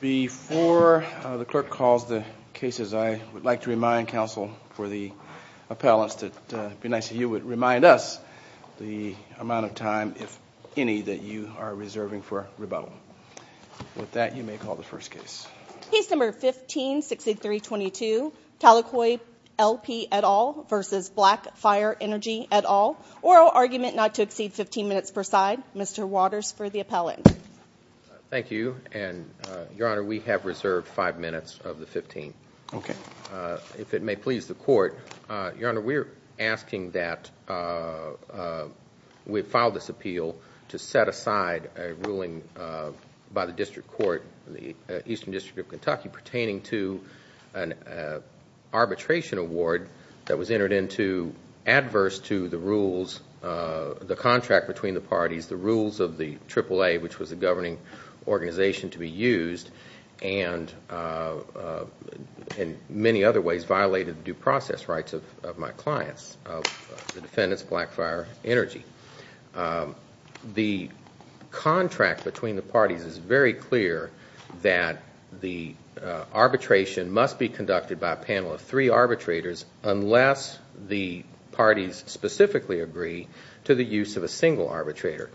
Before the clerk calls the cases, I would like to remind counsel for the appellants that it would be nice if you would remind us the amount of time, if any, that you are reserving for rebuttal. With that, you may call the first case. Case No. 15-6322, Talakoy LP v. Black Fire Energy, et al. Oral argument not to exceed 15 minutes per side. Mr. Waters for the appellant. Thank you. Your Honor, we have reserved five minutes of the 15th. If it may please the court, Your Honor, we are asking that we file this appeal to set aside a ruling by the district court, the Eastern District of Kentucky, pertaining to an arbitration award that was entered into adverse to the rules, the contract between the parties, the rules of the Triple A, which was approved by the Supreme Court. It was a governing organization to be used and, in many other ways, violated the due process rights of my clients, the defendants, Black Fire Energy. The contract between the parties is very clear that the arbitration must be conducted by a panel of three arbitrators unless the parties specifically agree to the use of a single arbitrator.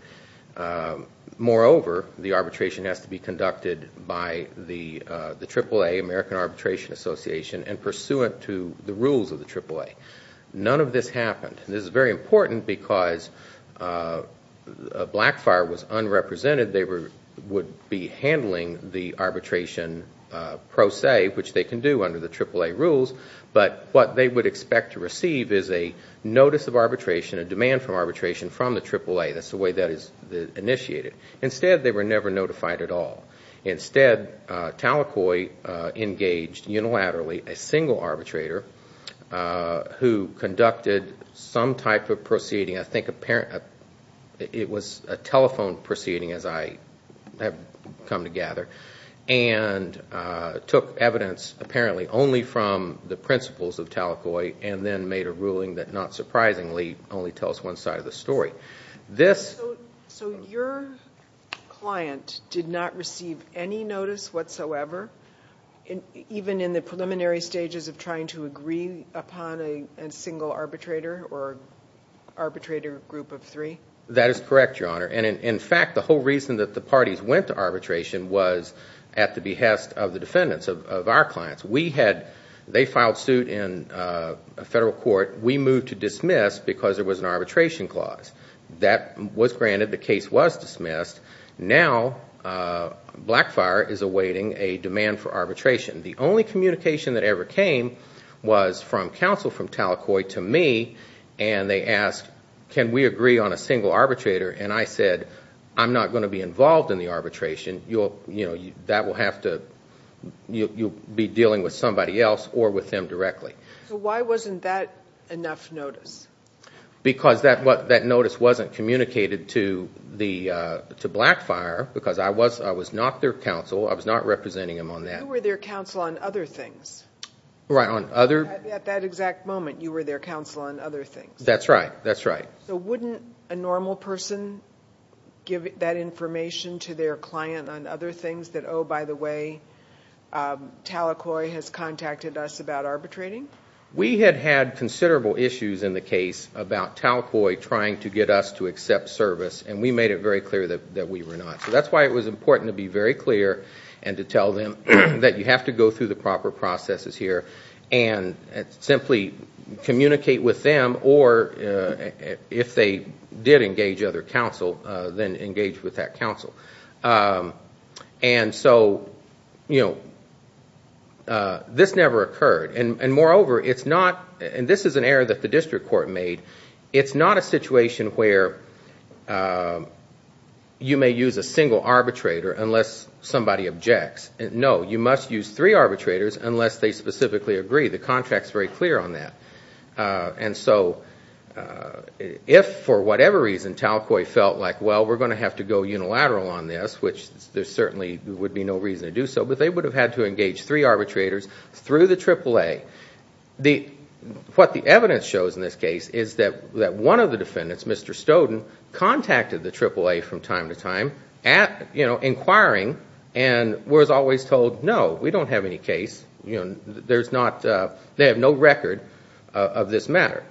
Moreover, the arbitration has to be conducted by the Triple A, American Arbitration Association, and pursuant to the rules of the Triple A. None of this happened. This is very important because Black Fire was unrepresented. They would be handling the arbitration pro se, which they can do under the Triple A rules. But what they would expect to receive is a notice of arbitration, a demand for arbitration from the Triple A. That's the way that is initiated. Instead, they were never notified at all. Instead, Talakoi engaged unilaterally a single arbitrator who conducted some type of proceeding. I think it was a telephone proceeding, as I have come to gather, and took evidence, apparently, only from the principles of Talakoi, and then made a ruling that, not surprisingly, only tells one side of the story. So your client did not receive any notice whatsoever, even in the preliminary stages of trying to agree upon a single arbitrator or arbitrator group of three? That is correct, Your Honor. In fact, the whole reason that the parties went to arbitration was at the behest of the defendants, of our clients. They filed suit in a federal court. We moved to dismiss because there was an arbitration clause. That was granted. The case was dismissed. Now, Black Fire is awaiting a demand for arbitration. The only communication that ever came was from counsel from Talakoi to me, and they asked, Can we agree on a single arbitrator? I said, I'm not going to be involved in the arbitration. You'll be dealing with somebody else or with them directly. Why wasn't that enough notice? Because that notice wasn't communicated to Black Fire, because I was not their counsel. I was not representing them on that. You were their counsel on other things. Right, on other... At that exact moment, you were their counsel on other things. That's right. That's right. Wouldn't a normal person give that information to their client on other things that, oh, by the way, Talakoi has contacted us about arbitrating? We had had considerable issues in the case about Talakoi trying to get us to accept service, and we made it very clear that we were not. That's why it was important to be very clear and to tell them that you have to go through the proper processes here and simply communicate with them, or if they did engage other counsel, then engage with that counsel. So this never occurred. Moreover, it's not, and this is an error that the district court made, it's not a situation where you may use a single arbitrator unless somebody objects. No, you must use three arbitrators unless they specifically agree. The contract's very clear on that. So if, for whatever reason, Talakoi felt like, well, we're going to have to go unilateral on this, which there certainly would be no reason to do so, but they would have had to engage three arbitrators through the AAA. What the evidence shows in this case is that one of the defendants, Mr. Stoden, contacted the AAA from time to time inquiring and was always told, no, we don't have any case, they have no record of this matter.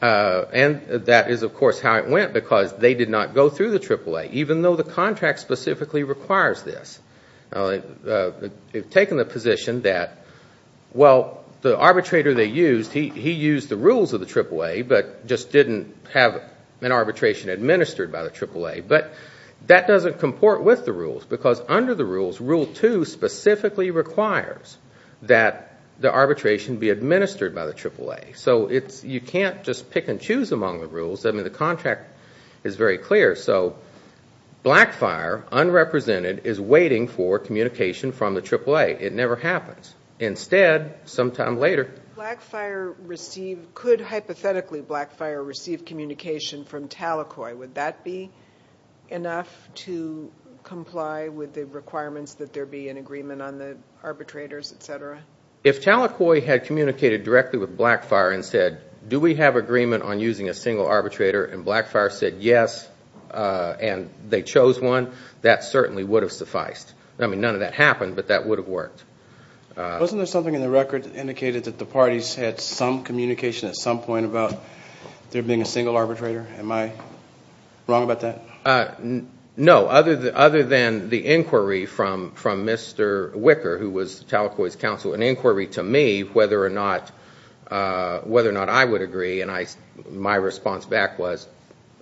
And that is, of course, how it went, because they did not go through the AAA, even though the contract specifically requires this. They've taken the position that, well, the arbitrator they used, he used the rules of the AAA, but just didn't have an arbitration administered by the AAA. But that doesn't comport with the rules, because under the rules, Rule 2 specifically requires that the arbitration be administered by the AAA. So you can't just pick and choose among the rules. I mean, the contract is very clear. So Blackfire, unrepresented, is waiting for communication from the AAA. It never happens. Instead, sometime later. Blackfire received, could hypothetically Blackfire receive communication from Talakoi. Would that be enough to comply with the requirements that there be an agreement on the arbitrators, et cetera? If Talakoi had communicated directly with Blackfire and said, do we have agreement on using a single arbitrator, and Blackfire said yes, and they chose one, that certainly would have sufficed. I mean, none of that happened, but that would have worked. Wasn't there something in the record that indicated that the parties had some communication at some point about there being a single arbitrator? Am I wrong about that? No, other than the inquiry from Mr. Wicker, who was Talakoi's counsel, an inquiry to me whether or not I would agree, and my response back was,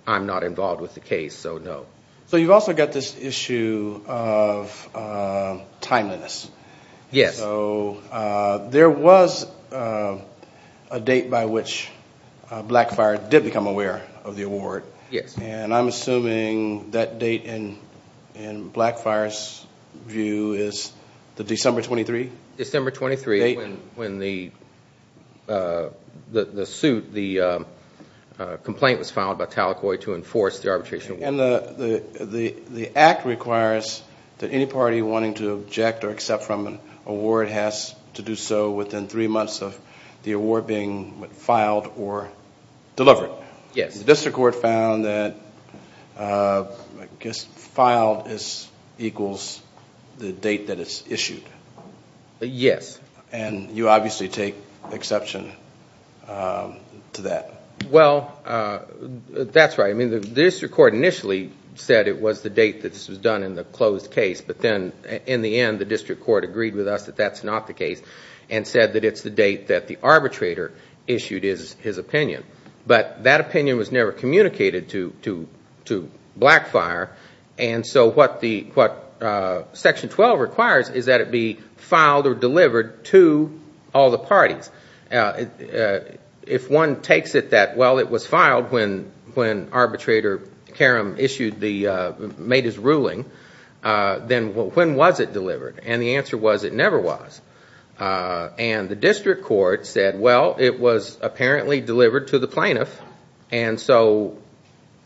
I'm not involved with the case, so no. So you've also got this issue of timeliness. Yes. So there was a date by which Blackfire did become aware of the award. Yes. And I'm assuming that date in Blackfire's view is the December 23? December 23, when the suit, the complaint was filed by Talakoi to enforce the arbitration. And the act requires that any party wanting to object or accept from an award has to do so within three months of the award being filed or delivered. Yes. And the district court found that, I guess, filed equals the date that it's issued. Yes. And you obviously take exception to that. Well, that's right. I mean, the district court initially said it was the date that this was done in the closed case, but then in the end the district court agreed with us that that's not the case and said that it's the date that the arbitrator issued his opinion. But that opinion was never communicated to Blackfire, and so what Section 12 requires is that it be filed or delivered to all the parties. If one takes it that, well, it was filed when arbitrator Karam made his ruling, then when was it delivered? And the answer was it never was. And the district court said, well, it was apparently delivered to the plaintiff, and so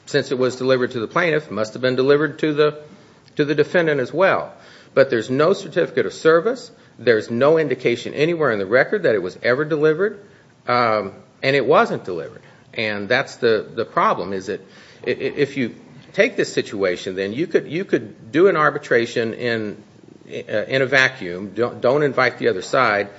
since it was delivered to the plaintiff, it must have been delivered to the defendant as well. But there's no certificate of service. There's no indication anywhere in the record that it was ever delivered, and it wasn't delivered. And that's the problem, is that if you take this situation, then you could do an arbitration in a vacuum. Don't invite the other side.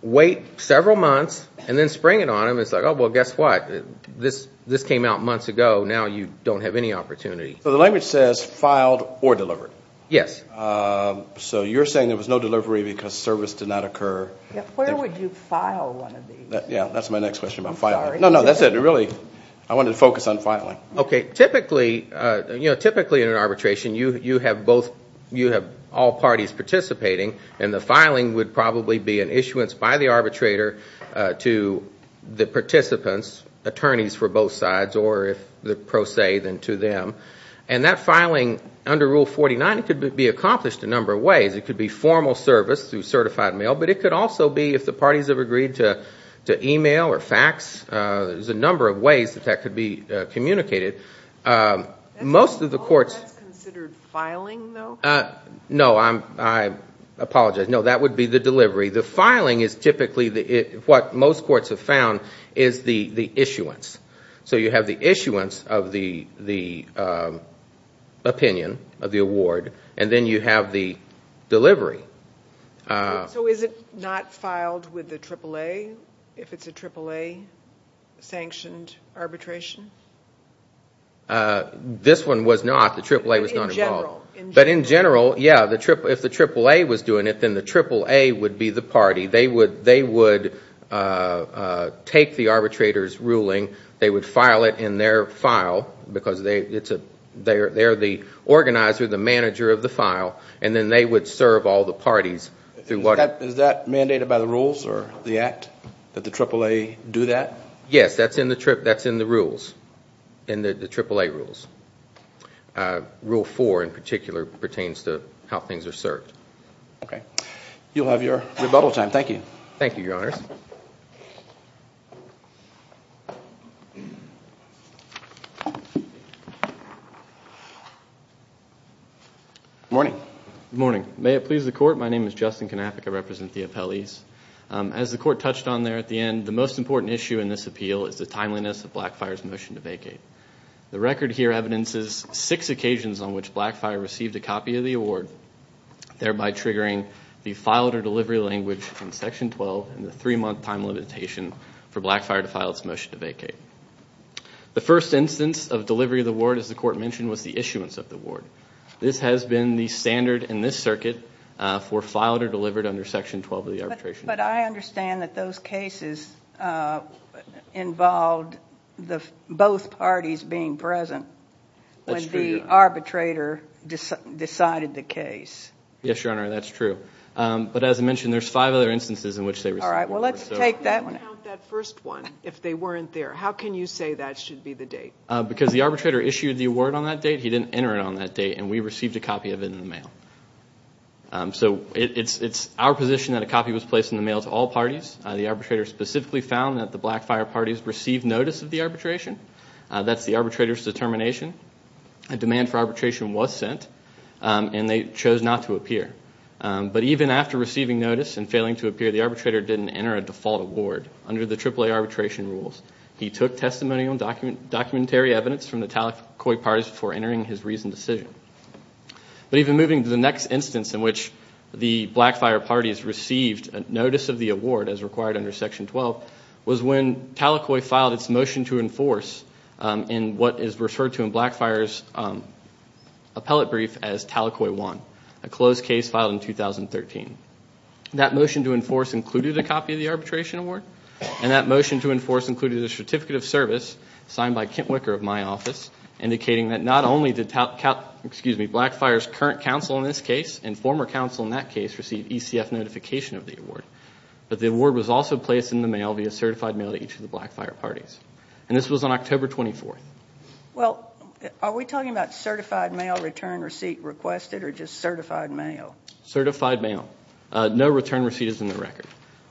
Wait several months and then spring it on them. It's like, oh, well, guess what? This came out months ago. Now you don't have any opportunity. So the language says filed or delivered. Yes. So you're saying there was no delivery because service did not occur. Where would you file one of these? Yeah, that's my next question about filing. I'm sorry. No, no, that's it. Really, I wanted to focus on filing. Typically in an arbitration, you have all parties participating, and the filing would probably be an issuance by the arbitrator to the participants, attorneys for both sides, or if they're pro se, then to them. And that filing under Rule 49 could be accomplished a number of ways. It could be formal service through certified mail, but it could also be if the parties have agreed to e-mail or fax. There's a number of ways that that could be communicated. That's considered filing, though? No, I apologize. No, that would be the delivery. The filing is typically what most courts have found is the issuance. So you have the issuance of the opinion of the award, and then you have the delivery. So is it not filed with the AAA if it's a AAA-sanctioned arbitration? This one was not. The AAA was not involved. But in general? But in general, yeah. If the AAA was doing it, then the AAA would be the party. They would take the arbitrator's ruling. They would file it in their file because they're the organizer, the manager of the file, and then they would serve all the parties. Is that mandated by the rules or the act that the AAA do that? Yes, that's in the rules, in the AAA rules. Rule 4, in particular, pertains to how things are served. Okay. You'll have your rebuttal time. Thank you. Thank you, Your Honors. Good morning. Good morning. May it please the Court, my name is Justin Kanapka. I represent the appellees. As the Court touched on there at the end, the most important issue in this appeal is the timeliness of Blackfire's motion to vacate. The record here evidences six occasions on which Blackfire received a copy of the award, thereby triggering the filed or delivery language in Section 12 and the three-month time limitation for Blackfire to file its motion to vacate. The first instance of delivery of the award, as the Court mentioned, was the issuance of the award. This has been the standard in this circuit for filed or delivered under Section 12 of the arbitration. But I understand that those cases involved both parties being present when the arbitrator decided the case. Yes, Your Honor, that's true. But as I mentioned, there's five other instances in which they received the award. All right, well, let's take that one out. How can you count that first one if they weren't there? How can you say that should be the date? Because the arbitrator issued the award on that date, he didn't enter it on that date, and we received a copy of it in the mail. So it's our position that a copy was placed in the mail to all parties. The arbitrator specifically found that the Blackfire parties received notice of the arbitration. That's the arbitrator's determination. A demand for arbitration was sent, and they chose not to appear. But even after receiving notice and failing to appear, the arbitrator didn't enter a default award under the AAA arbitration rules. He took testimonial and documentary evidence from the Talakoi parties before entering his reasoned decision. But even moving to the next instance in which the Blackfire parties received notice of the award, as required under Section 12, was when Talakoi filed its motion to enforce in what is referred to in Blackfire's appellate brief as Talakoi 1, a closed case filed in 2013. That motion to enforce included a copy of the arbitration award, and that motion to enforce included a certificate of service signed by Kent Wicker of my office, indicating that not only did Blackfire's current counsel in this case and former counsel in that case receive ECF notification of the award, but the award was also placed in the mail via certified mail to each of the Blackfire parties. And this was on October 24th. Well, are we talking about certified mail return receipt requested or just certified mail? Certified mail. No return receipt is in the record.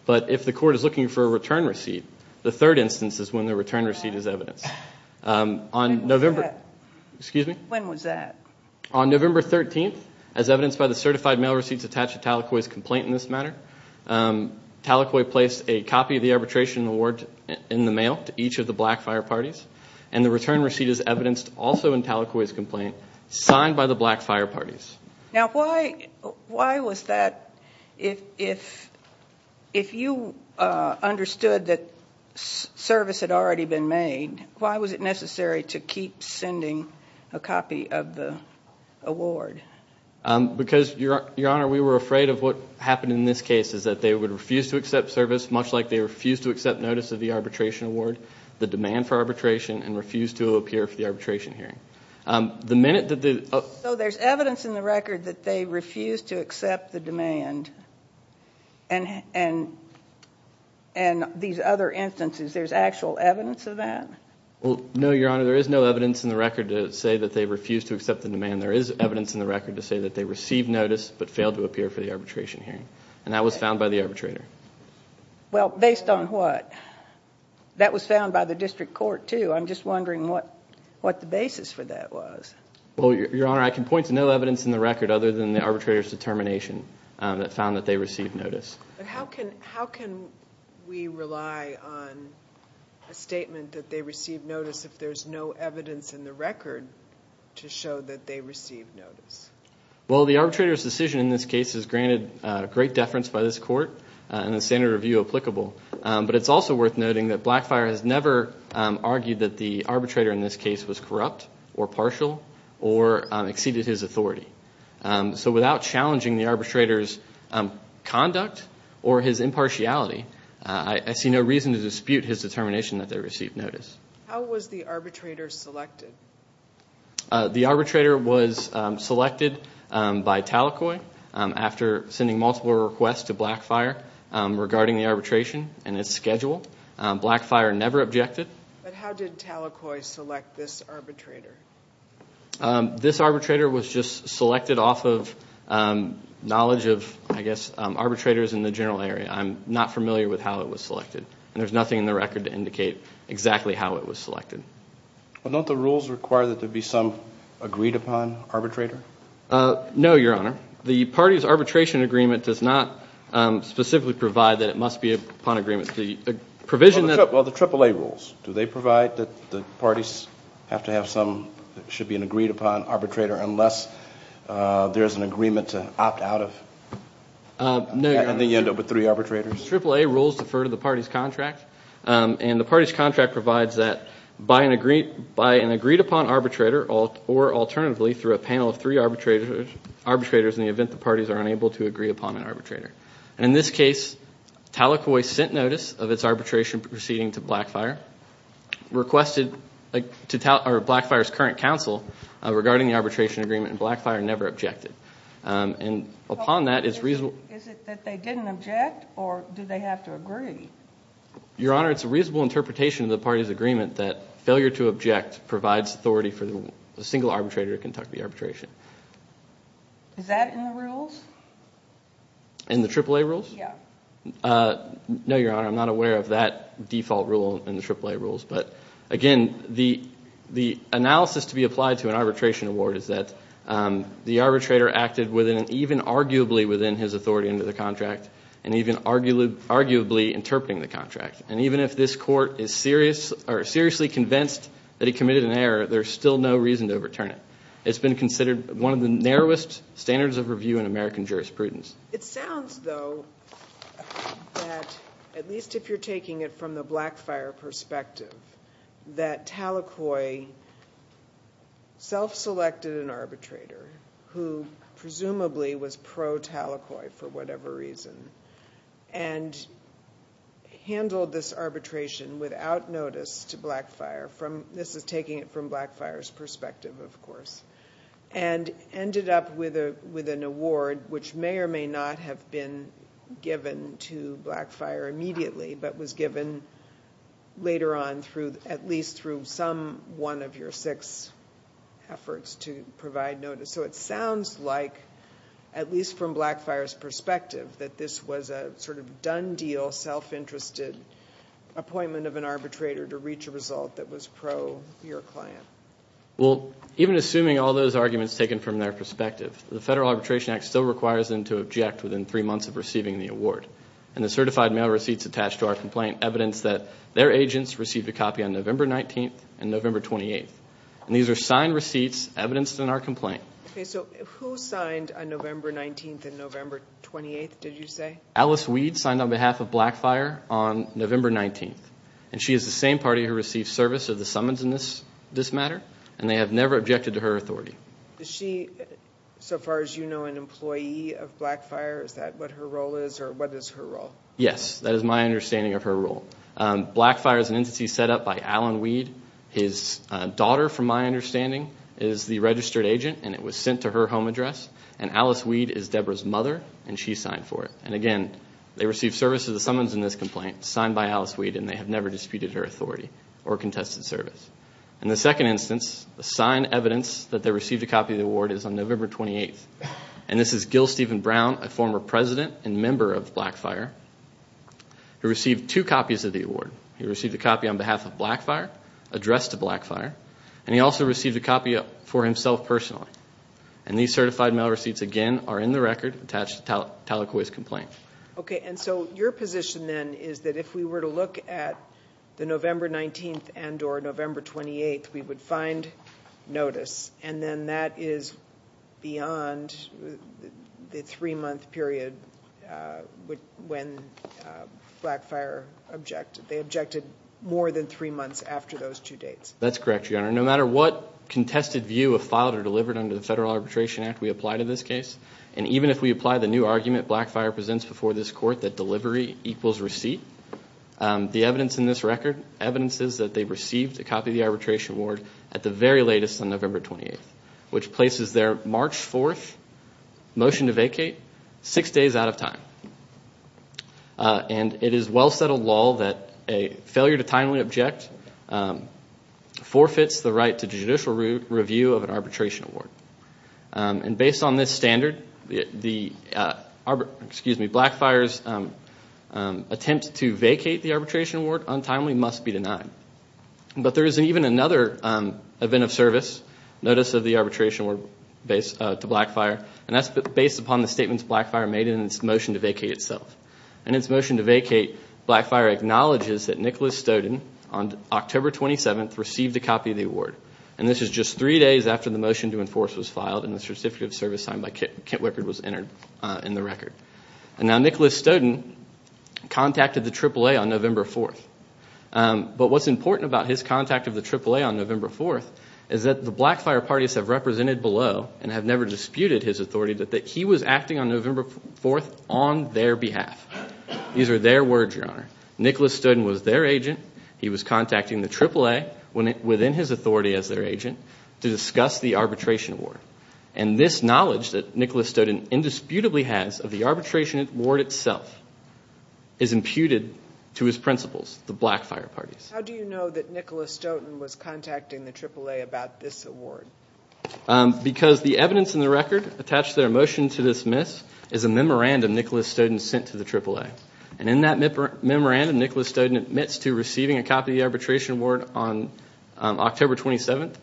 But if the court is looking for a return receipt, the third instance is when the return receipt is evidenced. When was that? When was that? On November 13th, as evidenced by the certified mail receipts attached to Talakoi's complaint in this matter. Talakoi placed a copy of the arbitration award in the mail to each of the Blackfire parties, and the return receipt is evidenced also in Talakoi's complaint, signed by the Blackfire parties. Now, why was that? If you understood that service had already been made, why was it necessary to keep sending a copy of the award? Because, Your Honor, we were afraid of what happened in this case, is that they would refuse to accept service, much like they refused to accept notice of the arbitration award, the demand for arbitration, and refused to appear for the arbitration hearing. So there's evidence in the record that they refused to accept the demand, and these other instances, there's actual evidence of that? No, Your Honor, there is no evidence in the record to say that they refused to accept the demand. There is evidence in the record to say that they received notice, but failed to appear for the arbitration hearing, and that was found by the arbitrator. Well, based on what? That was found by the district court, too. I'm just wondering what the basis for that was. Well, Your Honor, I can point to no evidence in the record other than the arbitrator's determination that found that they received notice. How can we rely on a statement that they received notice if there's no evidence in the record to show that they received notice? Well, the arbitrator's decision in this case is granted great deference by this court, and the standard of view applicable. But it's also worth noting that Blackfire has never argued that the arbitrator in this case was corrupt or partial or exceeded his authority. So without challenging the arbitrator's conduct or his impartiality, I see no reason to dispute his determination that they received notice. How was the arbitrator selected? The arbitrator was selected by Talakoi after sending multiple requests to Blackfire regarding the arbitration and its schedule. Blackfire never objected. But how did Talakoi select this arbitrator? This arbitrator was just selected off of knowledge of, I guess, arbitrators in the general area. I'm not familiar with how it was selected, and there's nothing in the record to indicate exactly how it was selected. Well, don't the rules require that there be some agreed-upon arbitrator? No, Your Honor. The party's arbitration agreement does not specifically provide that it must be upon agreement. Well, the AAA rules. Do they provide that the parties have to have some that should be an agreed-upon arbitrator unless there is an agreement to opt out of? No, Your Honor. And then you end up with three arbitrators? AAA rules defer to the party's contract, and the party's contract provides that by an agreed-upon arbitrator or alternatively through a panel of three arbitrators in the event the parties are unable to agree upon an arbitrator. And in this case, Talakoi sent notice of its arbitration proceeding to Blackfire, requested to Blackfire's current counsel regarding the arbitration agreement, and Blackfire never objected. And upon that, it's reasonable. Is it that they didn't object, or did they have to agree? Your Honor, it's a reasonable interpretation of the party's agreement that failure to object provides authority for a single arbitrator to conduct the arbitration. Is that in the rules? In the AAA rules? Yeah. No, Your Honor. I'm not aware of that default rule in the AAA rules. But again, the analysis to be applied to an arbitration award is that the arbitrator acted within and even arguably within his authority under the contract and even arguably interpreting the contract. And even if this court is seriously convinced that he committed an error, there's still no reason to overturn it. It's been considered one of the narrowest standards of review in American jurisprudence. It sounds, though, that at least if you're taking it from the Blackfire perspective, that Talakoi self-selected an arbitrator who presumably was pro-Talakoi for whatever reason and handled this arbitration without notice to Blackfire. This is taking it from Blackfire's perspective, of course, and ended up with an award which may or may not have been given to Blackfire immediately but was given later on at least through some one of your six efforts to provide notice. So it sounds like, at least from Blackfire's perspective, that this was a sort of done deal, self-interested appointment of an arbitrator to reach a result that was pro-your client. Well, even assuming all those arguments taken from their perspective, the Federal Arbitration Act still requires them to object within three months of receiving the award. And the certified mail receipts attached to our complaint evidence that their agents received a copy on November 19th and November 28th. And these are signed receipts evidenced in our complaint. Okay, so who signed on November 19th and November 28th, did you say? Alice Weed signed on behalf of Blackfire on November 19th. And she is the same party who received service of the summons in this matter, and they have never objected to her authority. Is she, so far as you know, an employee of Blackfire? Is that what her role is, or what is her role? Yes, that is my understanding of her role. Blackfire is an entity set up by Alan Weed. His daughter, from my understanding, is the registered agent, and it was sent to her home address. And Alice Weed is Deborah's mother, and she signed for it. And again, they received service of the summons in this complaint, signed by Alice Weed, and they have never disputed her authority or contested service. In the second instance, the signed evidence that they received a copy of the award is on November 28th. And this is Gil Stephen Brown, a former president and member of Blackfire, who received two copies of the award. He received a copy on behalf of Blackfire, addressed to Blackfire, and he also received a copy for himself personally. And these certified mail receipts, again, are in the record attached to Tallaquah's complaint. Okay, and so your position then is that if we were to look at the November 19th and or November 28th, we would find notice, and then that is beyond the three-month period when Blackfire objected. They objected more than three months after those two dates. That's correct, Your Honor. No matter what contested view of filed or delivered under the Federal Arbitration Act we apply to this case, and even if we apply the new argument Blackfire presents before this court that delivery equals receipt, the evidence in this record evidences that they received a copy of the arbitration award at the very latest on November 28th, which places their March 4th motion to vacate six days out of time. And it is well-settled law that a failure to timely object forfeits the right to judicial review of an arbitration award. And based on this standard, Blackfire's attempt to vacate the arbitration award untimely must be denied. But there is even another event of service, notice of the arbitration award to Blackfire, and that's based upon the statements Blackfire made in its motion to vacate itself. In its motion to vacate, Blackfire acknowledges that Nicholas Stoden on October 27th received a copy of the award, and this is just three days after the motion to enforce was filed and the Certificate of Service signed by Kent Wickard was entered in the record. And now Nicholas Stoden contacted the AAA on November 4th. But what's important about his contact of the AAA on November 4th is that the Blackfire parties have represented below and have never disputed his authority that he was acting on November 4th on their behalf. These are their words, Your Honor. Nicholas Stoden was their agent. He was contacting the AAA within his authority as their agent to discuss the arbitration award. And this knowledge that Nicholas Stoden indisputably has of the arbitration award itself is imputed to his principles, the Blackfire parties. How do you know that Nicholas Stoden was contacting the AAA about this award? Because the evidence in the record attached to their motion to dismiss is a memorandum Nicholas Stoden sent to the AAA. And in that memorandum, Nicholas Stoden admits to receiving a copy of the arbitration award on October 27th,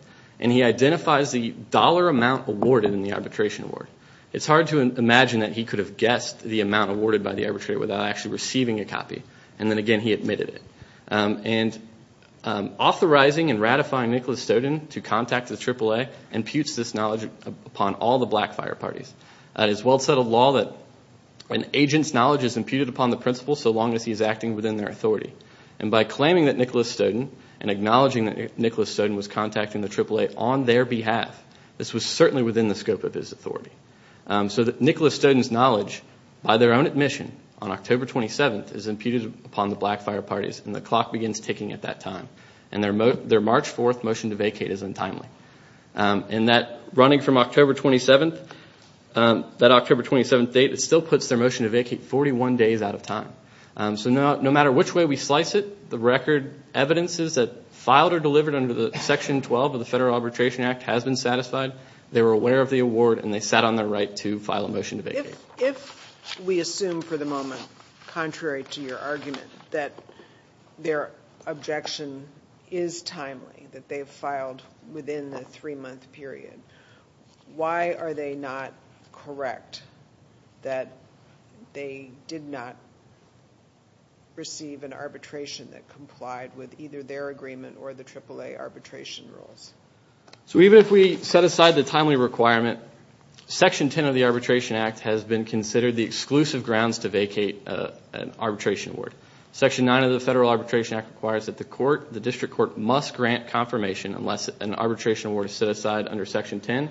and he identifies the dollar amount awarded in the arbitration award. It's hard to imagine that he could have guessed the amount awarded by the arbitrator without actually receiving a copy. And then again, he admitted it. And authorizing and ratifying Nicholas Stoden to contact the AAA imputes this knowledge upon all the Blackfire parties. It is well-settled law that an agent's knowledge is imputed upon the principal so long as he is acting within their authority. And by claiming that Nicholas Stoden and acknowledging that Nicholas Stoden was contacting the AAA on their behalf, this was certainly within the scope of his authority. So Nicholas Stoden's knowledge, by their own admission, on October 27th is imputed upon the Blackfire parties, and the clock begins ticking at that time. And their March 4th motion to vacate is untimely. And that running from October 27th, that October 27th date, it still puts their motion to vacate 41 days out of time. So no matter which way we slice it, the record evidences that filed or delivered under Section 12 of the Federal Arbitration Act has been satisfied. They were aware of the award, and they sat on their right to file a motion to vacate. If we assume for the moment, contrary to your argument, that their objection is timely, that they have filed within the three-month period, why are they not correct that they did not receive an arbitration that complied with either their agreement or the AAA arbitration rules? So even if we set aside the timely requirement, Section 10 of the Arbitration Act has been considered the exclusive grounds to vacate an arbitration award. Section 9 of the Federal Arbitration Act requires that the court, the district court, must grant confirmation unless an arbitration award is set aside under Section 10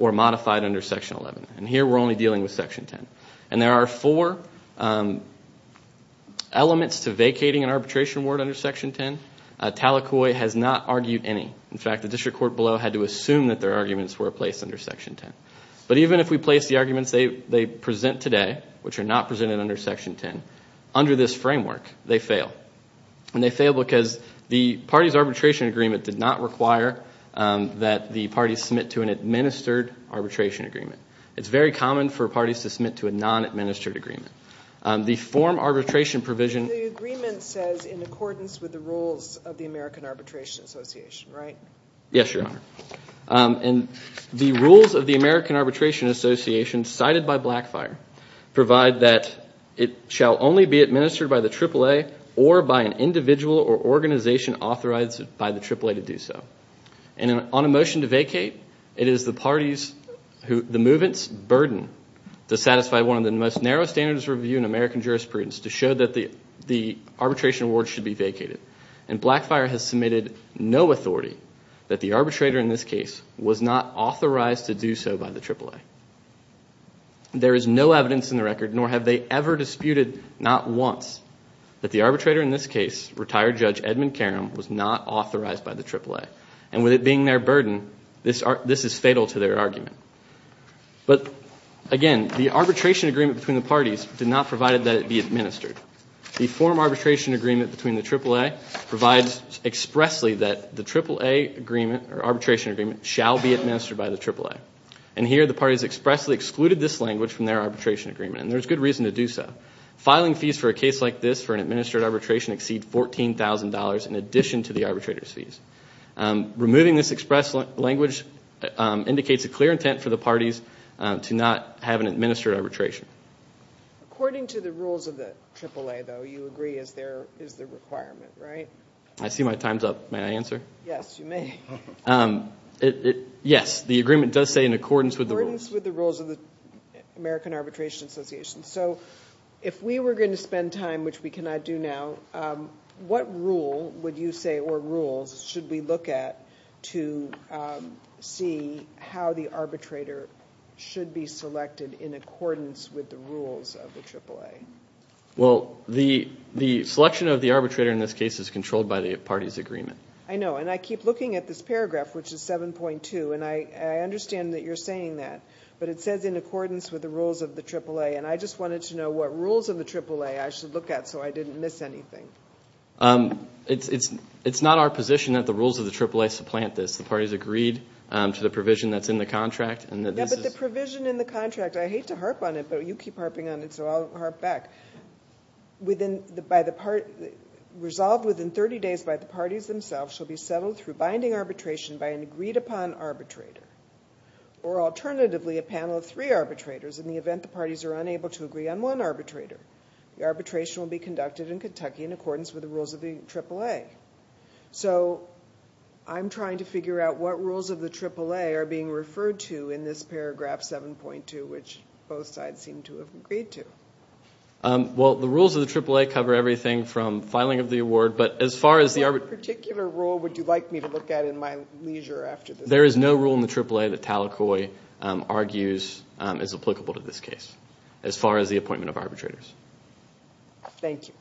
or modified under Section 11. And here we're only dealing with Section 10. And there are four elements to vacating an arbitration award under Section 10. Talakoi has not argued any. In fact, the district court below had to assume that their arguments were placed under Section 10. But even if we place the arguments they present today, which are not presented under Section 10, under this framework, they fail. And they fail because the party's arbitration agreement did not require that the party submit to an administered arbitration agreement. It's very common for parties to submit to a non-administered agreement. The form arbitration provision— The rules of the American Arbitration Association, right? Yes, Your Honor. And the rules of the American Arbitration Association, cited by Blackfire, provide that it shall only be administered by the AAA or by an individual or organization authorized by the AAA to do so. And on a motion to vacate, it is the party's, the movement's, burden to satisfy one of the most narrow standards of review in American jurisprudence to show that the arbitration award should be vacated. And Blackfire has submitted no authority that the arbitrator in this case was not authorized to do so by the AAA. There is no evidence in the record, nor have they ever disputed, not once, that the arbitrator in this case, retired Judge Edmund Karam, was not authorized by the AAA. And with it being their burden, this is fatal to their argument. But, again, the arbitration agreement between the parties did not provide that it be administered. The form arbitration agreement between the AAA provides expressly that the AAA agreement, or arbitration agreement, shall be administered by the AAA. And here, the parties expressly excluded this language from their arbitration agreement, and there's good reason to do so. Filing fees for a case like this for an administered arbitration exceeds $14,000 in addition to the arbitrator's fees. Removing this express language indicates a clear intent for the parties to not have an administered arbitration. According to the rules of the AAA, though, you agree is the requirement, right? I see my time's up. May I answer? Yes, you may. Yes, the agreement does say in accordance with the rules. In accordance with the rules of the American Arbitration Association. So, if we were going to spend time, which we cannot do now, what rule would you say, or rules, should we look at to see how the arbitrator should be selected in accordance with the rules of the AAA? Well, the selection of the arbitrator in this case is controlled by the parties' agreement. I know, and I keep looking at this paragraph, which is 7.2, and I understand that you're saying that, but it says in accordance with the rules of the AAA, and I just wanted to know what rules of the AAA I should look at so I didn't miss anything. It's not our position that the rules of the AAA supplant this. The parties agreed to the provision that's in the contract. Yeah, but the provision in the contract, I hate to harp on it, but you keep harping on it, so I'll harp back. Resolved within 30 days by the parties themselves, shall be settled through binding arbitration by an agreed-upon arbitrator, or alternatively, a panel of three arbitrators in the event the parties are unable to agree on one arbitrator. The arbitration will be conducted in Kentucky in accordance with the rules of the AAA. So I'm trying to figure out what rules of the AAA are being referred to in this paragraph 7.2, which both sides seem to have agreed to. Well, the rules of the AAA cover everything from filing of the award, but as far as the arbitration— What particular rule would you like me to look at in my leisure after this? There is no rule in the AAA that Tallacoy argues is applicable to this case as far as the appointment of arbitrators. Thank you.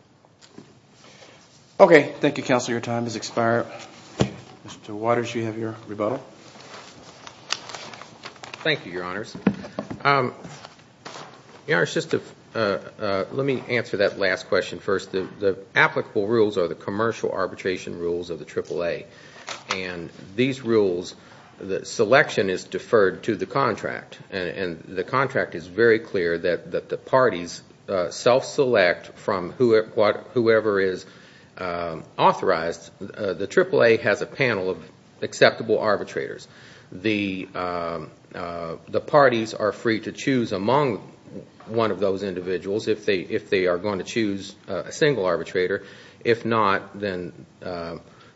Okay. Thank you, Counselor. Your time has expired. Mr. Waters, you have your rebuttal. Thank you, Your Honors. Your Honors, let me answer that last question first. The applicable rules are the commercial arbitration rules of the AAA, and these rules, the selection is deferred to the contract, and the contract is very clear that the parties self-select from whoever is authorized. The AAA has a panel of acceptable arbitrators. The parties are free to choose among one of those individuals if they are going to choose a single arbitrator. If not, then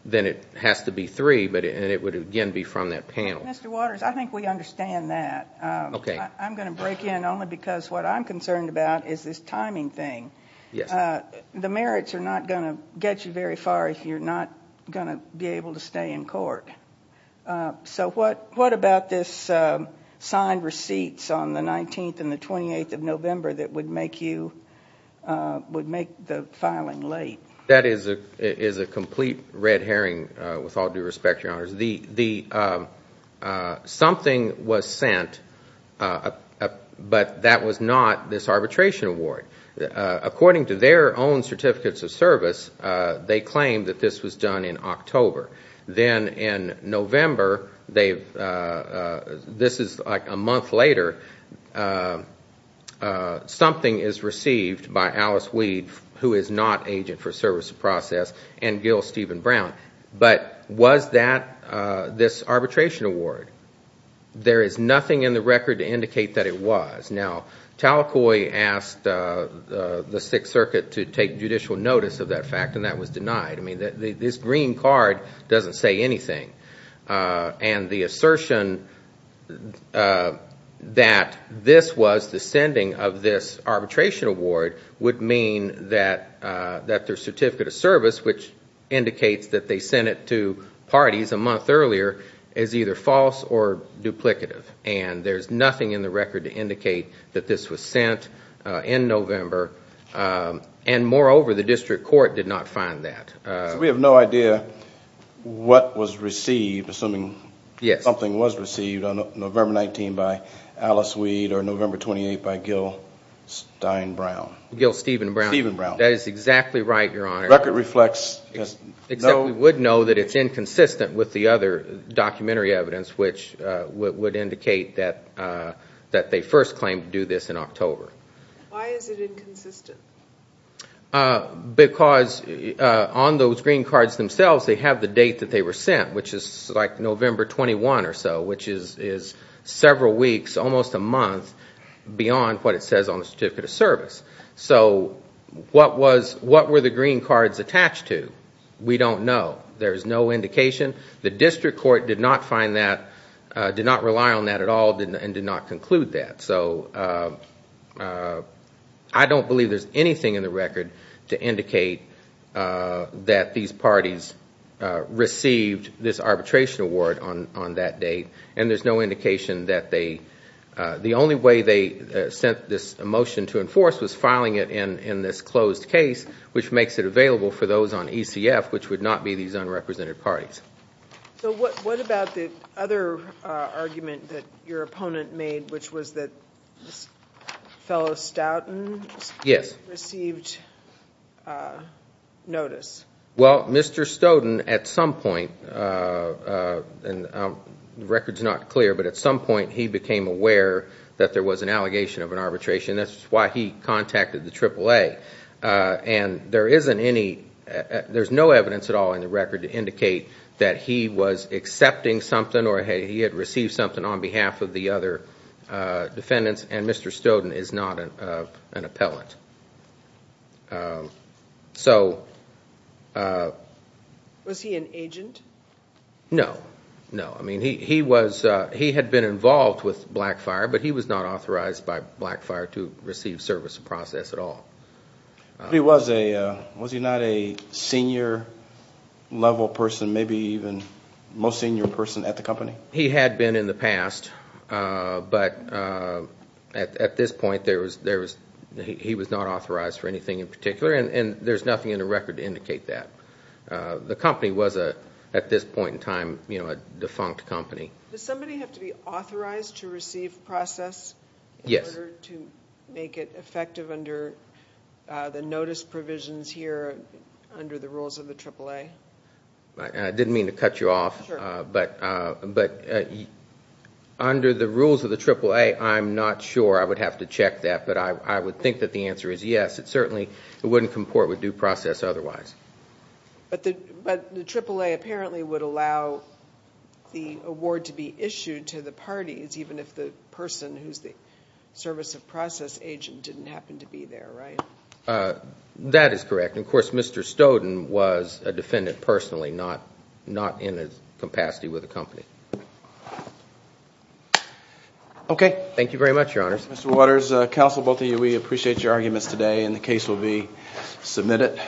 it has to be three, and it would again be from that panel. Mr. Waters, I think we understand that. Okay. I'm going to break in only because what I'm concerned about is this timing thing. Yes. The merits are not going to get you very far if you're not going to be able to stay in court. What about this signed receipts on the 19th and the 28th of November that would make the filing late? That is a complete red herring, with all due respect, Your Honors. Something was sent, but that was not this arbitration award. According to their own certificates of service, they claim that this was done in October. Then in November, this is like a month later, something is received by Alice Weed, who is not agent for service to process, and Gil Stephen Brown. But was that this arbitration award? There is nothing in the record to indicate that it was. Now, Talakoi asked the Sixth Circuit to take judicial notice of that fact, and that was denied. This green card doesn't say anything. The assertion that this was the sending of this arbitration award would mean that their certificate of service, which indicates that they sent it to parties a month earlier, is either false or duplicative. There is nothing in the record to indicate that this was sent in November. And moreover, the district court did not find that. So we have no idea what was received, assuming something was received on November 19 by Alice Weed, or November 28 by Gil Stephen Brown. That is exactly right, Your Honor. We would know that it's inconsistent with the other documentary evidence, which would indicate that they first claimed to do this in October. Why is it inconsistent? Because on those green cards themselves, they have the date that they were sent, which is like November 21 or so, which is several weeks, almost a month, beyond what it says on the certificate of service. So what were the green cards attached to? We don't know. There is no indication. The district court did not find that, did not rely on that at all, and did not conclude that. So I don't believe there's anything in the record to indicate that these parties received this arbitration award on that date. And there's no indication that they – the only way they sent this motion to enforce was filing it in this closed case, which makes it available for those on ECF, which would not be these unrepresented parties. So what about the other argument that your opponent made, which was that this fellow Stoughton received notice? Well, Mr. Stoughton, at some point, and the record's not clear, but at some point he became aware that there was an allegation of an arbitration. And there isn't any – there's no evidence at all in the record to indicate that he was accepting something or he had received something on behalf of the other defendants, and Mr. Stoughton is not an appellant. Was he an agent? No. No, I mean, he was – he had been involved with Blackfire, but he was not authorized by Blackfire to receive service or process at all. But he was a – was he not a senior-level person, maybe even most senior person at the company? He had been in the past, but at this point there was – he was not authorized for anything in particular, and there's nothing in the record to indicate that. The company was, at this point in time, a defunct company. Does somebody have to be authorized to receive process in order to make it effective under the notice provisions here, under the rules of the AAA? I didn't mean to cut you off, but under the rules of the AAA, I'm not sure. I would have to check that, but I would think that the answer is yes. It certainly wouldn't comport with due process otherwise. But the AAA apparently would allow the award to be issued to the parties, even if the person who's the service of process agent didn't happen to be there, right? That is correct. Of course, Mr. Stoughton was a defendant personally, not in his capacity with the company. Okay. Thank you very much, Your Honors. Mr. Waters, counsel, both of you, we appreciate your arguments today, and the case will be submitted.